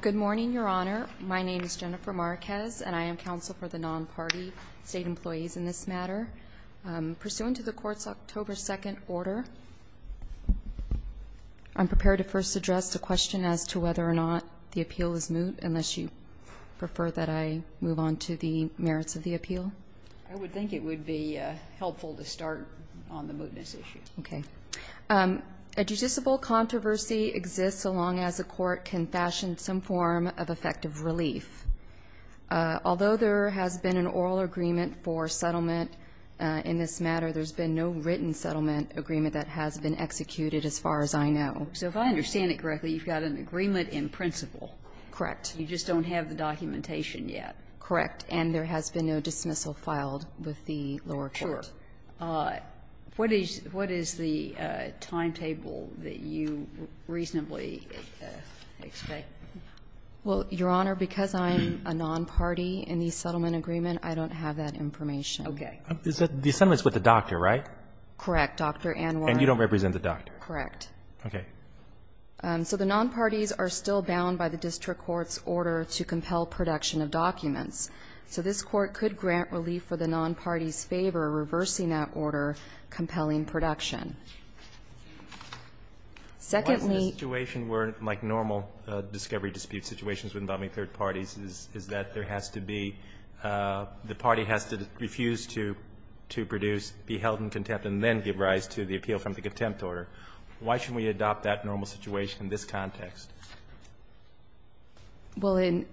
Good morning, Your Honor. My name is Jennifer Marquez, and I am counsel for the non-party state employees in this matter. Pursuant to the Court's October 2nd order, I'm prepared to first address the question as to whether or not the appeal is moot, unless you prefer that I move on to the merits of the appeal. I would think it would be helpful to start on the mootness issue. Okay. A judiciable controversy exists so long as a court can fashion some form of effective relief. Although there has been an oral agreement for settlement in this matter, there's been no written settlement agreement that has been executed as far as I know. So if I understand it correctly, you've got an agreement in principle. Correct. You just don't have the documentation yet. Correct. And there has been no dismissal filed with the lower court. Sure. What is the timetable that you reasonably expect? Well, Your Honor, because I'm a non-party in the settlement agreement, I don't have that information. Okay. The settlement is with the doctor, right? Correct. Dr. Ann Warren. And you don't represent the doctor. Correct. Okay. So the non-parties are still bound by the district court's order to compel production of documents. So this Court could grant relief for the non-parties' favor, reversing that order compelling production. Secondly ---- Why is the situation where, like normal discovery dispute situations with non-parties is that there has to be the party has to refuse to produce, be held in contempt and then give rise to the appeal from the contempt order? Why shouldn't we adopt that normal situation in this context? Well, in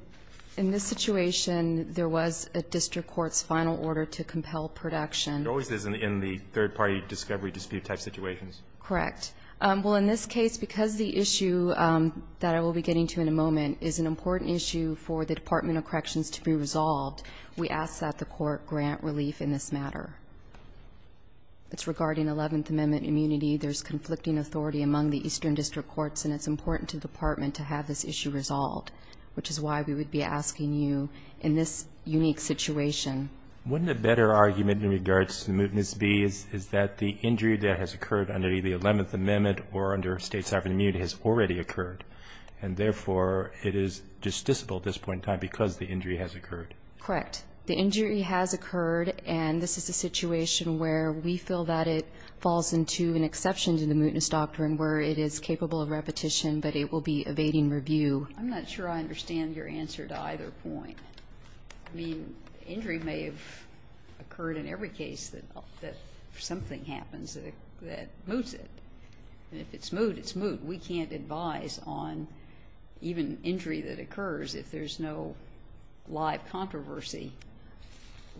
this situation, there was a district court's final order to compel production. There always is in the third-party discovery dispute type situations. Correct. Well, in this case, because the issue that I will be getting to in a moment is an important issue for the Department of Corrections to be resolved, we ask that the Court grant relief in this matter. It's regarding Eleventh Amendment immunity. There's conflicting authority among the Eastern District Courts, and it's important to the Department to have this issue resolved, which is why we would be asking you in this unique situation. Wouldn't a better argument in regards to the mootness be is that the injury that has occurred under the Eleventh Amendment or under state sovereign immunity has already occurred, and therefore, it is justiciable at this point in time because the injury has occurred? Correct. The injury has occurred, and this is a situation where we feel that it falls into an exception to the mootness doctrine where it is capable of repetition, but it will be evading review. I'm not sure I understand your answer to either point. I mean, injury may have occurred in every case that something happens that moots it. And if it's moot, it's moot. We can't advise on even injury that occurs if there's no live controversy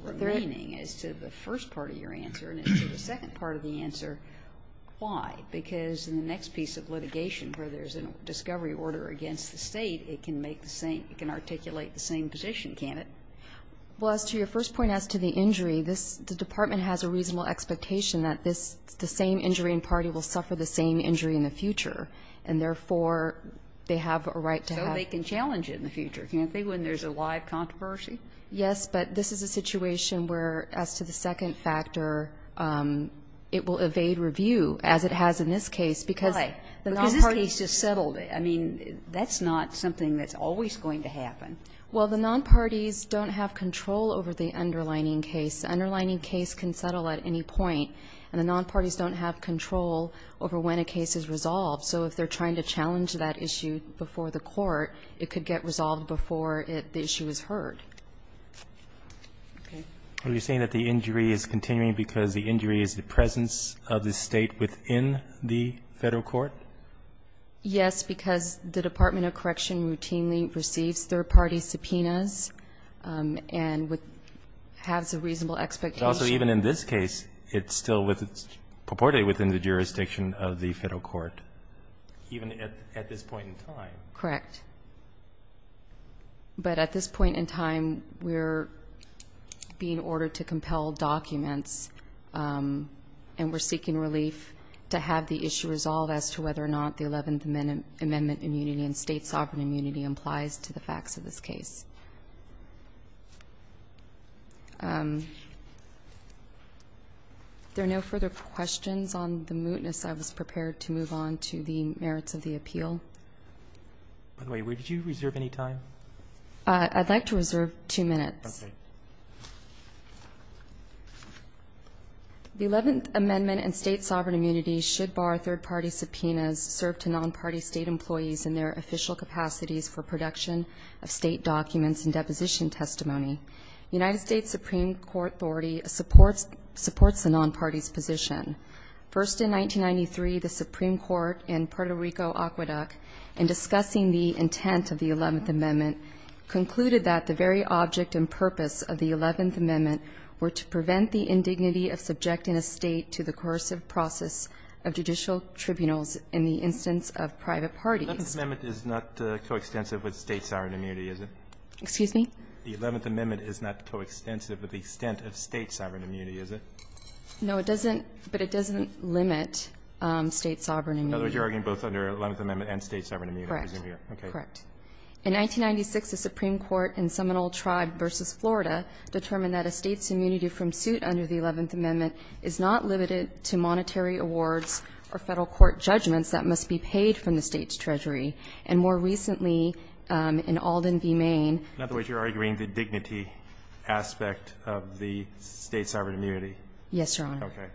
remaining as to the first part of your answer and as to the second part of the answer. Why? Because in the next piece of litigation where there's a discovery order against the State, it can make the same, it can articulate the same position, can't it? Well, as to your first point as to the injury, this, the Department has a reasonable expectation that this, the same injury and party will suffer the same injury in the future, and therefore, they have a right to have. So they can challenge it in the future, can't they, when there's a live controversy? Yes, but this is a situation where, as to the second factor, it will evade review as it has in this case because the nonparties just settled it. I mean, that's not something that's always going to happen. Well, the nonparties don't have control over the underlining case. The underlining case can settle at any point, and the nonparties don't have control over when a case is resolved. So if they're trying to challenge that issue before the court, it could get resolved before the issue is heard. Okay. Are you saying that the injury is continuing because the injury is the presence of the State within the Federal court? Yes, because the Department of Correction routinely receives third-party subpoenas and has a reasonable expectation. But also, even in this case, it's still purportedly within the jurisdiction of the Federal court, even at this point in time. Correct. But at this point in time, we're being ordered to compel documents, and we're seeking relief to have the issue resolved as to whether or not the Eleventh Amendment immunity and State sovereign immunity implies to the facts of this case. Are there no further questions on the mootness? I was prepared to move on to the merits of the appeal. By the way, did you reserve any time? I'd like to reserve two minutes. Okay. The Eleventh Amendment and State sovereign immunity should bar third-party subpoenas served to nonparty State employees in their official capacities for production of State documents and deposition testimony. United States Supreme Court authority supports the nonparty's position. First, in 1993, the Supreme Court in Puerto Rico-Aqueduct, in discussing the intent of the Eleventh Amendment, concluded that the very object and purpose of the Eleventh Amendment were to prevent the indignity of subjecting a State to the coercive process of judicial tribunals in the instance of private parties. The Eleventh Amendment is not coextensive with State sovereign immunity, is it? Excuse me? The Eleventh Amendment is not coextensive with the extent of State sovereign immunity, is it? No, it doesn't, but it doesn't limit State sovereign immunity. In other words, you're arguing both under the Eleventh Amendment and State sovereign immunity. Correct. Correct. In 1996, the Supreme Court in Seminole Tribe v. Florida determined that a State's immunity from suit under the Eleventh Amendment is not limited to monetary awards or Federal court judgments that must be paid from the State's treasury. And more recently, in Alden v. Maine. In other words, you're arguing the dignity aspect of the State sovereign immunity. Yes, Your Honor. Okay.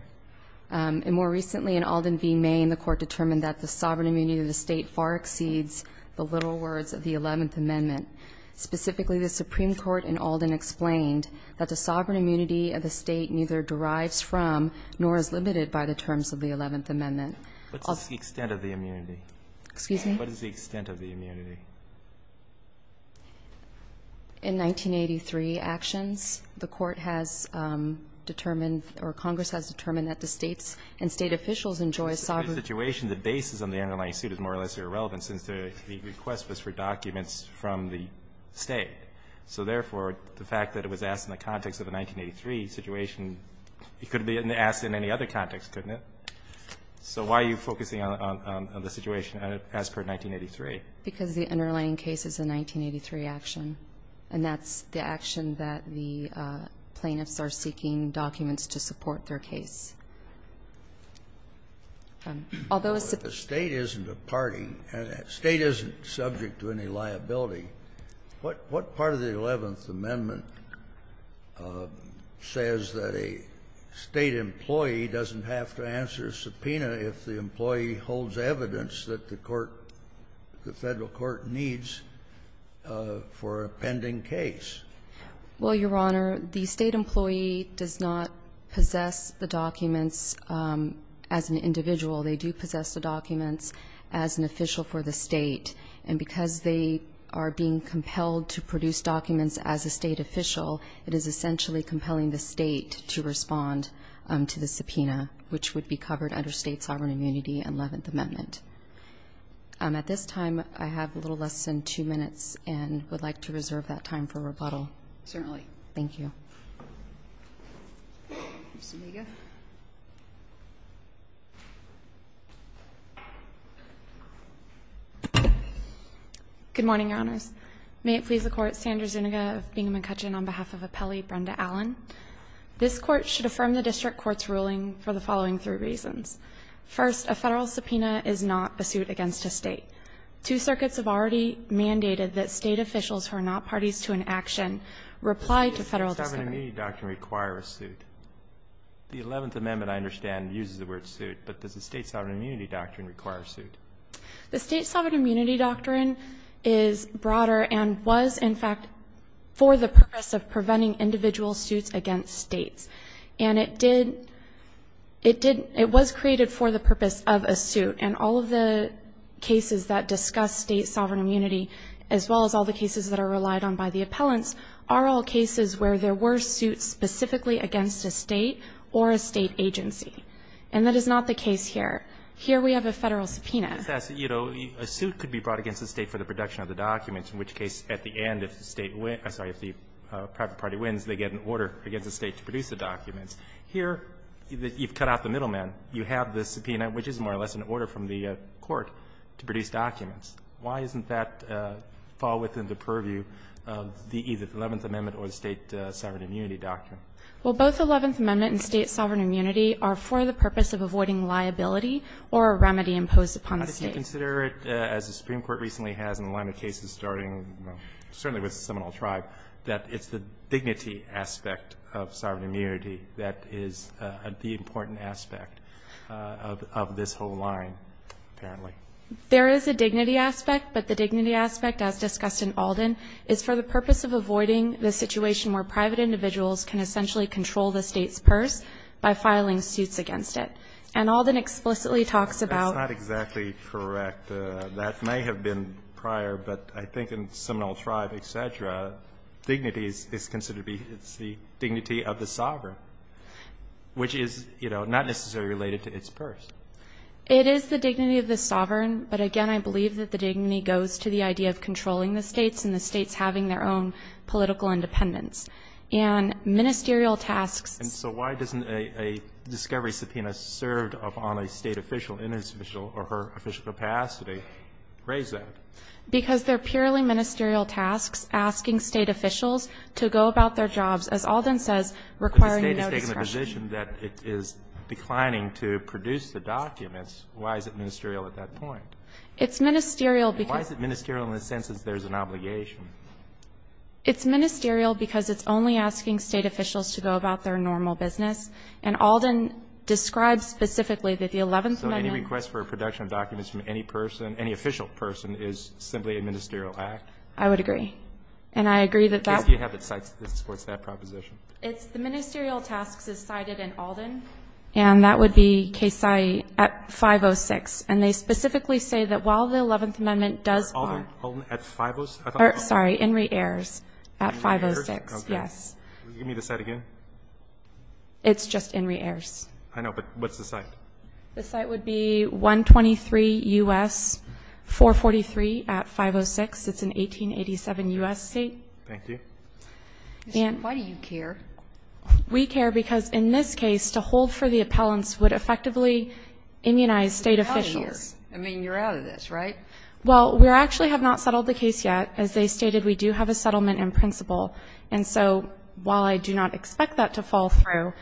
And more recently, in Alden v. Maine, the Court determined that the sovereign immunity of the State far exceeds the little words of the Eleventh Amendment. Specifically, the Supreme Court in Alden explained that the sovereign immunity of the State neither derives from nor is limited by the terms of the Eleventh Amendment. What's the extent of the immunity? Excuse me? What is the extent of the immunity? In 1983 actions, the Court has determined or Congress has determined that the States and State officials enjoy sovereign immunity. But in this situation, the basis of the underlying suit is more or less irrelevant since the request was for documents from the State. So therefore, the fact that it was asked in the context of the 1983 situation couldn't be asked in any other context, couldn't it? So why are you focusing on the situation as per 1983? Because the underlying case is a 1983 action, and that's the action that the plaintiffs are seeking documents to support their case. Although a State isn't a party, a State isn't subject to any liability, what part of the Eleventh Amendment says that a State employee doesn't have to answer a subpoena if the employee holds evidence that the Court, the Federal Court needs for a pending case? Well, Your Honor, the State employee does not possess the documents as an individual. They do possess the documents as an official for the State. And because they are being compelled to produce documents as a State official, it is essentially compelling the State to respond to the subpoena, which would be covered under State sovereign immunity and Eleventh Amendment. At this time, I have a little less than two minutes and would like to reserve that time for rebuttal. Certainly. Thank you. Ms. Omega. Good morning, Your Honors. May it please the Court, Sandra Zuniga of Bingham & Cutchin on behalf of Appellee Brenda Allen. This Court should affirm the District Court's ruling for the following three reasons. First, a Federal subpoena is not a suit against a State. Two circuits have already mandated that State officials who are not parties to an action reply to Federal discretion. Does the State sovereign immunity doctrine require a suit? The Eleventh Amendment, I understand, uses the word suit. But does the State sovereign immunity doctrine require a suit? The State sovereign immunity doctrine is broader and was, in fact, for the purpose of preventing individual suits against States. And it did, it did, it was created for the purpose of a suit. And all of the cases that discuss State sovereign immunity, as well as all the cases that are relied on by the appellants, are all cases where there were suits specifically against a State or a State agency. And that is not the case here. Here we have a Federal subpoena. A suit could be brought against a State for the production of the documents, in which case, at the end, if the State wins, I'm sorry, if the private party wins, they get an order against the State to produce the documents. Here, you've cut out the middleman. You have the subpoena, which is more or less an order from the Court to produce documents. Why doesn't that fall within the purview of either the Eleventh Amendment or the State sovereign immunity doctrine? Well, both the Eleventh Amendment and State sovereign immunity are for the purpose of avoiding liability or a remedy imposed upon the State. How do you consider it, as the Supreme Court recently has in a line of cases starting with, well, certainly with Seminole Tribe, that it's the dignity aspect of sovereign immunity that is the important aspect of this whole line, apparently? There is a dignity aspect, but the dignity aspect, as discussed in Alden, is for the purpose of avoiding the situation where private individuals can essentially control the State's purse by filing suits against it. And Alden explicitly talks about That's not exactly correct. That may have been prior, but I think in Seminole Tribe, et cetera, dignity is considered to be, it's the dignity of the sovereign, which is, you know, not necessarily related to its purse. It is the dignity of the sovereign, but again, I believe that the dignity goes to the idea of controlling the States and the States having their own political independence. And ministerial tasks And so why doesn't a discovery subpoena served upon a State official in its official capacity raise that? Because they are purely ministerial tasks asking State officials to go about their jobs, as Alden says, requiring no discretion. But the State has taken the position that it is declining to produce the documents. Why is it ministerial at that point? It's ministerial because Why is it ministerial in the sense that there is an obligation? It's ministerial because it's only asking State officials to go about their normal business. And Alden describes specifically that the Eleventh Amendment So any request for a production of documents from any person, any official person, is simply a ministerial act? I would agree. And I agree that that Case do you have that supports that proposition? It's the ministerial tasks is cited in Alden. And that would be Case I at 506. And they specifically say that while the Eleventh Amendment does Alden, Alden at 506? Sorry, Henry Ayers at 506. Henry Ayers? Give me the site again. It's just Henry Ayers. I know, but what's the site? The site would be 123 U.S. 443 at 506. It's an 1887 U.S. state. Thank you. Why do you care? We care because in this case to hold for the appellants would effectively immunize State officials. I mean, you're out of this, right? Well, we actually have not settled the case yet. As they stated, we do have a settlement in principle. And so while I do not expect that to fall through,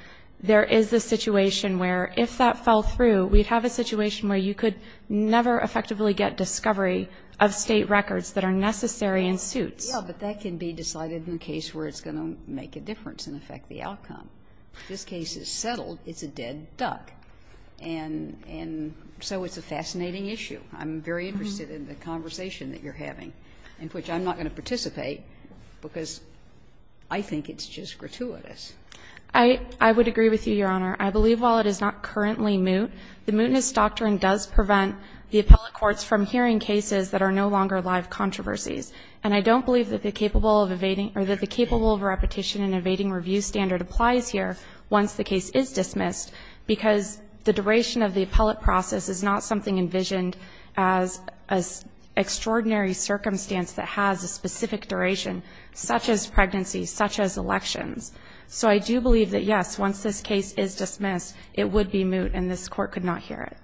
there is a situation where if that fell through, we'd have a situation where you could never effectively get discovery of State records that are necessary in suits. Yeah, but that can be decided in a case where it's going to make a difference and affect the outcome. If this case is settled, it's a dead duck. And so it's a fascinating issue. I'm very interested in the conversation that you're having, in which I'm not going to participate because I think it's just gratuitous. I would agree with you, Your Honor. I believe while it is not currently moot, the mootness doctrine does prevent the appellate courts from hearing cases that are no longer live controversies. And I don't believe that the capable of evading or that the capable of repetition and evading review standard applies here once the case is dismissed because the duration of the appellate process is not something envisioned as an extraordinary circumstance that has a specific duration, such as pregnancy, such as elections. So I do believe that, yes, once this case is dismissed, it would be moot and this Court could not hear it.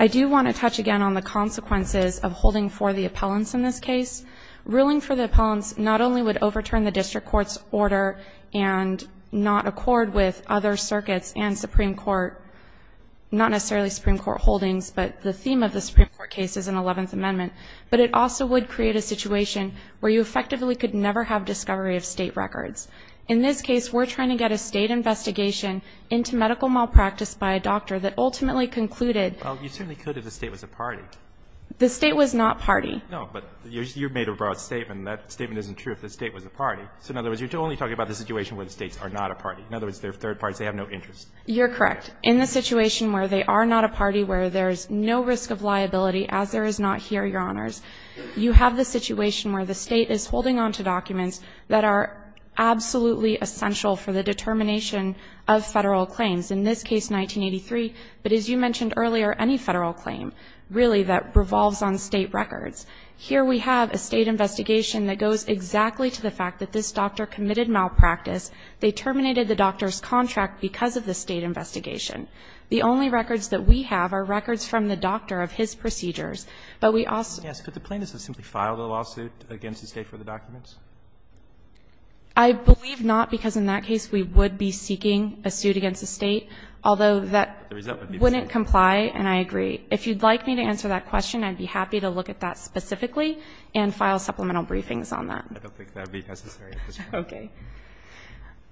I do want to touch again on the consequences of holding for the appellants in this case. Ruling for the appellants not only would overturn the district court's order and not accord with other circuits and Supreme Court, not necessarily Supreme Court holdings, but the theme of the Supreme Court case is an Eleventh Amendment, but it also would create a situation where you effectively could never have discovery of State records. In this case, we're trying to get a State investigation into medical malpractice by a doctor that ultimately concluded. Well, you certainly could if the State was a party. The State was not party. No, but you made a broad statement. That statement isn't true if the State was a party. So in other words, you're only talking about the situation where the States are not a party. In other words, they're third parties. They have no interest. You're correct. In the situation where they are not a party, where there is no risk of liability as there is not here, Your Honors, you have the situation where the State is holding on to documents that are absolutely essential for the determination of Federal claims. In this case, 1983, but as you mentioned earlier, any Federal claim really that revolves on State records. Here we have a State investigation that goes exactly to the fact that this doctor committed malpractice. They terminated the doctor's contract because of the State investigation. The only records that we have are records from the doctor of his procedures, but we also. Yes, but the plaintiffs have simply filed a lawsuit against the State for the documents. I believe not, because in that case we would be seeking a suit against the State, although that wouldn't comply, and I agree. If you'd like me to answer that question, I'd be happy to look at that specifically and file supplemental briefings on that. I don't think that would be necessary. Okay.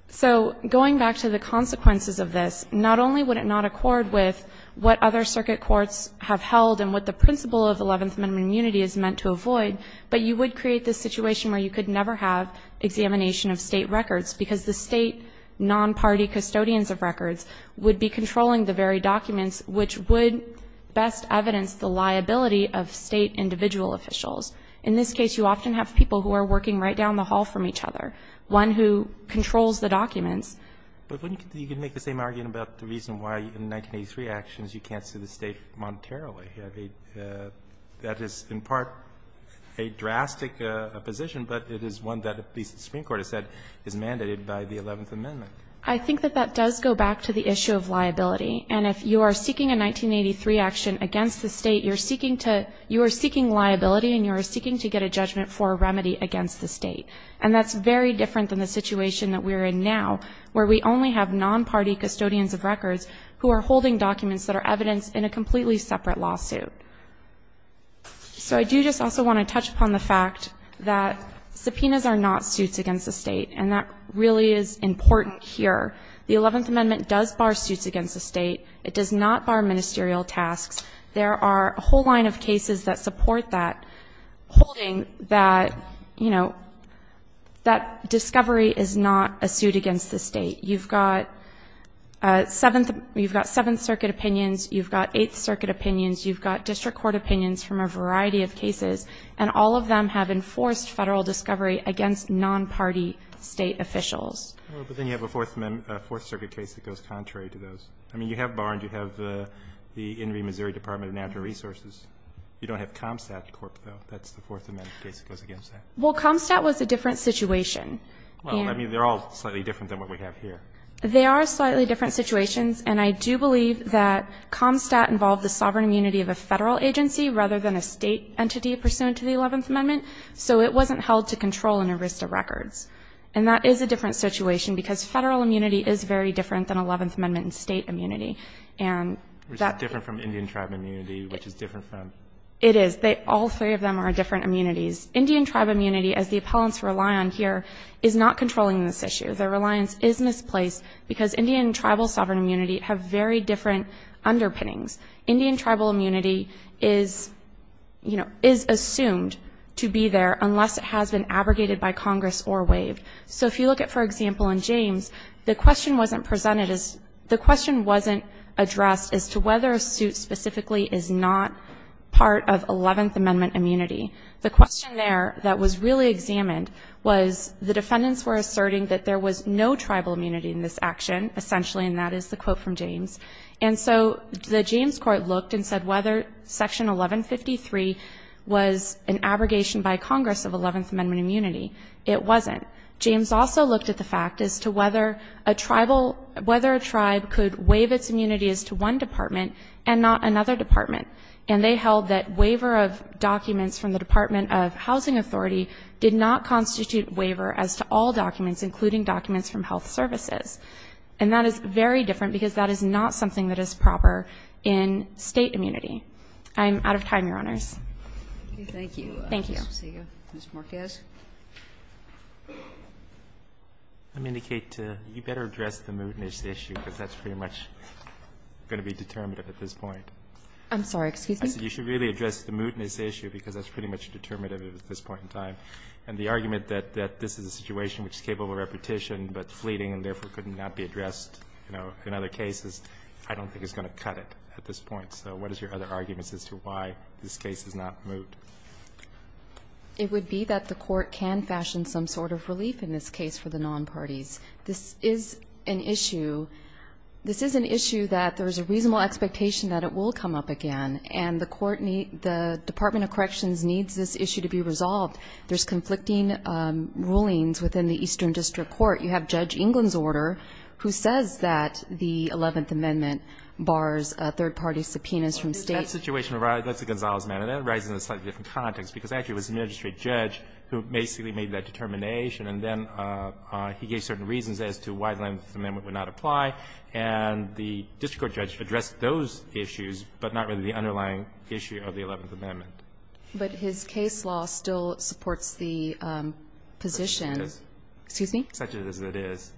So going back to the consequences of this, not only would it not accord with what other circuit courts have held and what the principle of 11th Amendment unity is meant to avoid, but you would create this situation where you could never have examination of State records, because the State non-party custodians of records would be controlling the very documents which would best evidence the liability of State individual officials. In this case, you often have people who are working right down the hall from each other, one who controls the documents. But wouldn't you make the same argument about the reason why in 1983 actions you can't sue the State monetarily? That is in part a drastic position, but it is one that the Supreme Court has said is mandated by the 11th Amendment. I think that that does go back to the issue of liability. And if you are seeking a 1983 action against the State, you're seeking to – you are seeking liability and you are seeking to get a judgment for a remedy against the State. And that's very different than the situation that we're in now, where we only have non-party custodians of records who are holding documents that are evidence in a completely separate lawsuit. So I do just also want to touch upon the fact that subpoenas are not suits against the State, and that really is important here. The 11th Amendment does bar suits against the State. It does not bar ministerial tasks. There are a whole line of cases that support that, holding that, you know, that discovery is not a suit against the State. You've got Seventh Circuit opinions. You've got Eighth Circuit opinions. You've got district court opinions from a variety of cases, and all of them have enforced Federal discovery against non-party State officials. But then you have a Fourth Circuit case that goes contrary to those. I mean, you have Barnes. You have the In re, Missouri Department of Natural Resources. You don't have Comstat court, though. That's the Fourth Amendment case that goes against that. Well, Comstat was a different situation. Well, I mean, they're all slightly different than what we have here. They are slightly different situations, and I do believe that Comstat involved the sovereign immunity of a Federal agency rather than a State entity pursuant to the 11th Amendment. So it wasn't held to control in a wrist of records. And that is a different situation, because Federal immunity is very different than 11th Amendment and State immunity. And that ---- Which is different from Indian tribe immunity, which is different from ---- It is. All three of them are different immunities. Indian tribe immunity, as the appellants rely on here, is not controlling this issue. Their reliance is misplaced, because Indian tribal sovereign immunity have very different underpinnings. Indian tribal immunity is, you know, is assumed to be there unless it has been abrogated by Congress or waived. So if you look at, for example, in James, the question wasn't presented as ---- the question wasn't addressed as to whether a suit specifically is not part of 11th Amendment immunity. The question there that was really examined was the defendants were asserting that there was no tribal immunity in this action, essentially, and that is the quote from James. And so the James court looked and said whether Section 1153 was an abrogation by Congress of 11th Amendment immunity. It wasn't. James also looked at the fact as to whether a tribal ---- whether a tribe could waive its immunity as to one department and not another department. And they held that waiver of documents from the Department of Housing Authority did not constitute waiver as to all documents, including documents from health services. And that is very different, because that is not something that is proper in State immunity. Thank you. Thank you. Thank you. I don't see you. Mr. Marquez. I'm going to indicate to you better address the mootness issue, because that's pretty much going to be determinative at this point. I'm sorry. Excuse me? I said you should really address the mootness issue, because that's pretty much determinative at this point in time. And the argument that this is a situation which is capable of repetition, but fleeting and therefore could not be addressed, you know, in other cases, I don't think is going to cut it at this point. So what is your other arguments as to why this case is not moot? It would be that the Court can fashion some sort of relief in this case for the non-parties. This is an issue. This is an issue that there is a reasonable expectation that it will come up again. And the Court needs the Department of Corrections needs this issue to be resolved. There's conflicting rulings within the Eastern District Court. You have Judge England's order, who says that the Eleventh Amendment bars third-party subpoenas from State. That's a Gonzales matter. That arises in a slightly different context, because actually it was the magistrate judge who basically made that determination, and then he gave certain reasons as to why the Eleventh Amendment would not apply. And the district court judge addressed those issues, but not really the underlying issue of the Eleventh Amendment. But his case law still supports the position. Such as it is. Excuse me? Such as it is.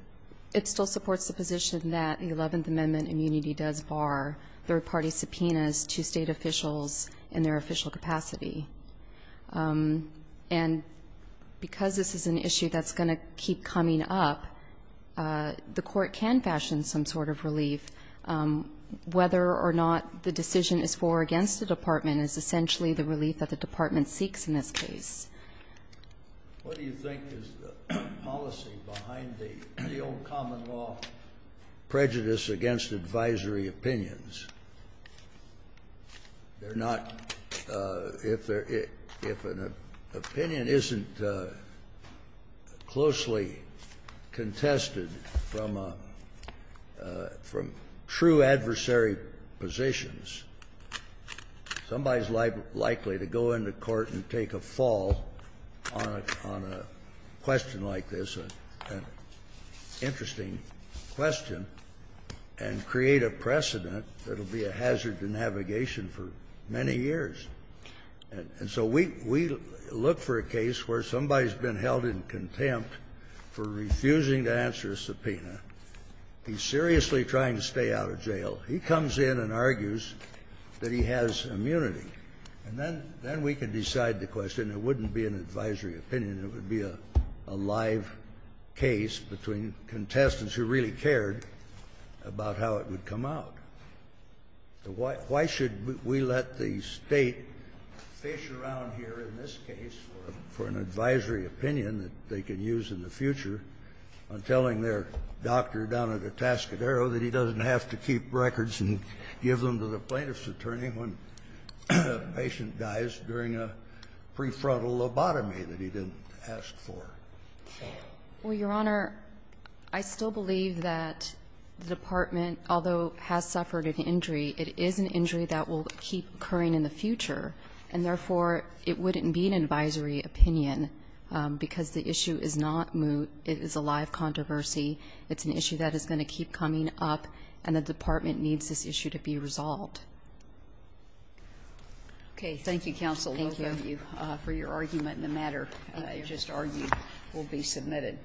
It still supports the position that the Eleventh Amendment immunity does bar third-party subpoenas to State officials in their official capacity. And because this is an issue that's going to keep coming up, the Court can fashion some sort of relief. Whether or not the decision is for or against the Department is essentially the relief that the Department seeks in this case. What do you think is the policy behind the old common law prejudice against advisory opinions? They're not — if an opinion isn't closely contested from a — from true adversary positions, somebody is likely to go into court and take a fall on a question like this, an interesting question, and create a precedent that will be a hazard to navigation for many years. And so we — we look for a case where somebody has been held in contempt for refusing to answer a subpoena. He's seriously trying to stay out of jail. He comes in and argues that he has immunity. And then — then we can decide the question. It wouldn't be an advisory opinion. It would be a live case between contestants who really cared about how it would come out. Why — why should we let the State fish around here in this case for an advisory opinion that they can use in the future on telling their doctor down at Atascadero that he doesn't have to keep records and give them to the plaintiff's attorney when a patient dies during a prefrontal lobotomy that he didn't ask for? Well, Your Honor, I still believe that the Department, although has suffered an injury, it is an injury that will keep occurring in the future, and therefore it wouldn't be an advisory opinion because the issue is not moot. It is a live controversy. It's an issue that is going to keep coming up, and the Department needs this issue to be resolved. Okay. Thank you, Counsel Lova. Thank you. For your argument in the matter I just argued will be submitted.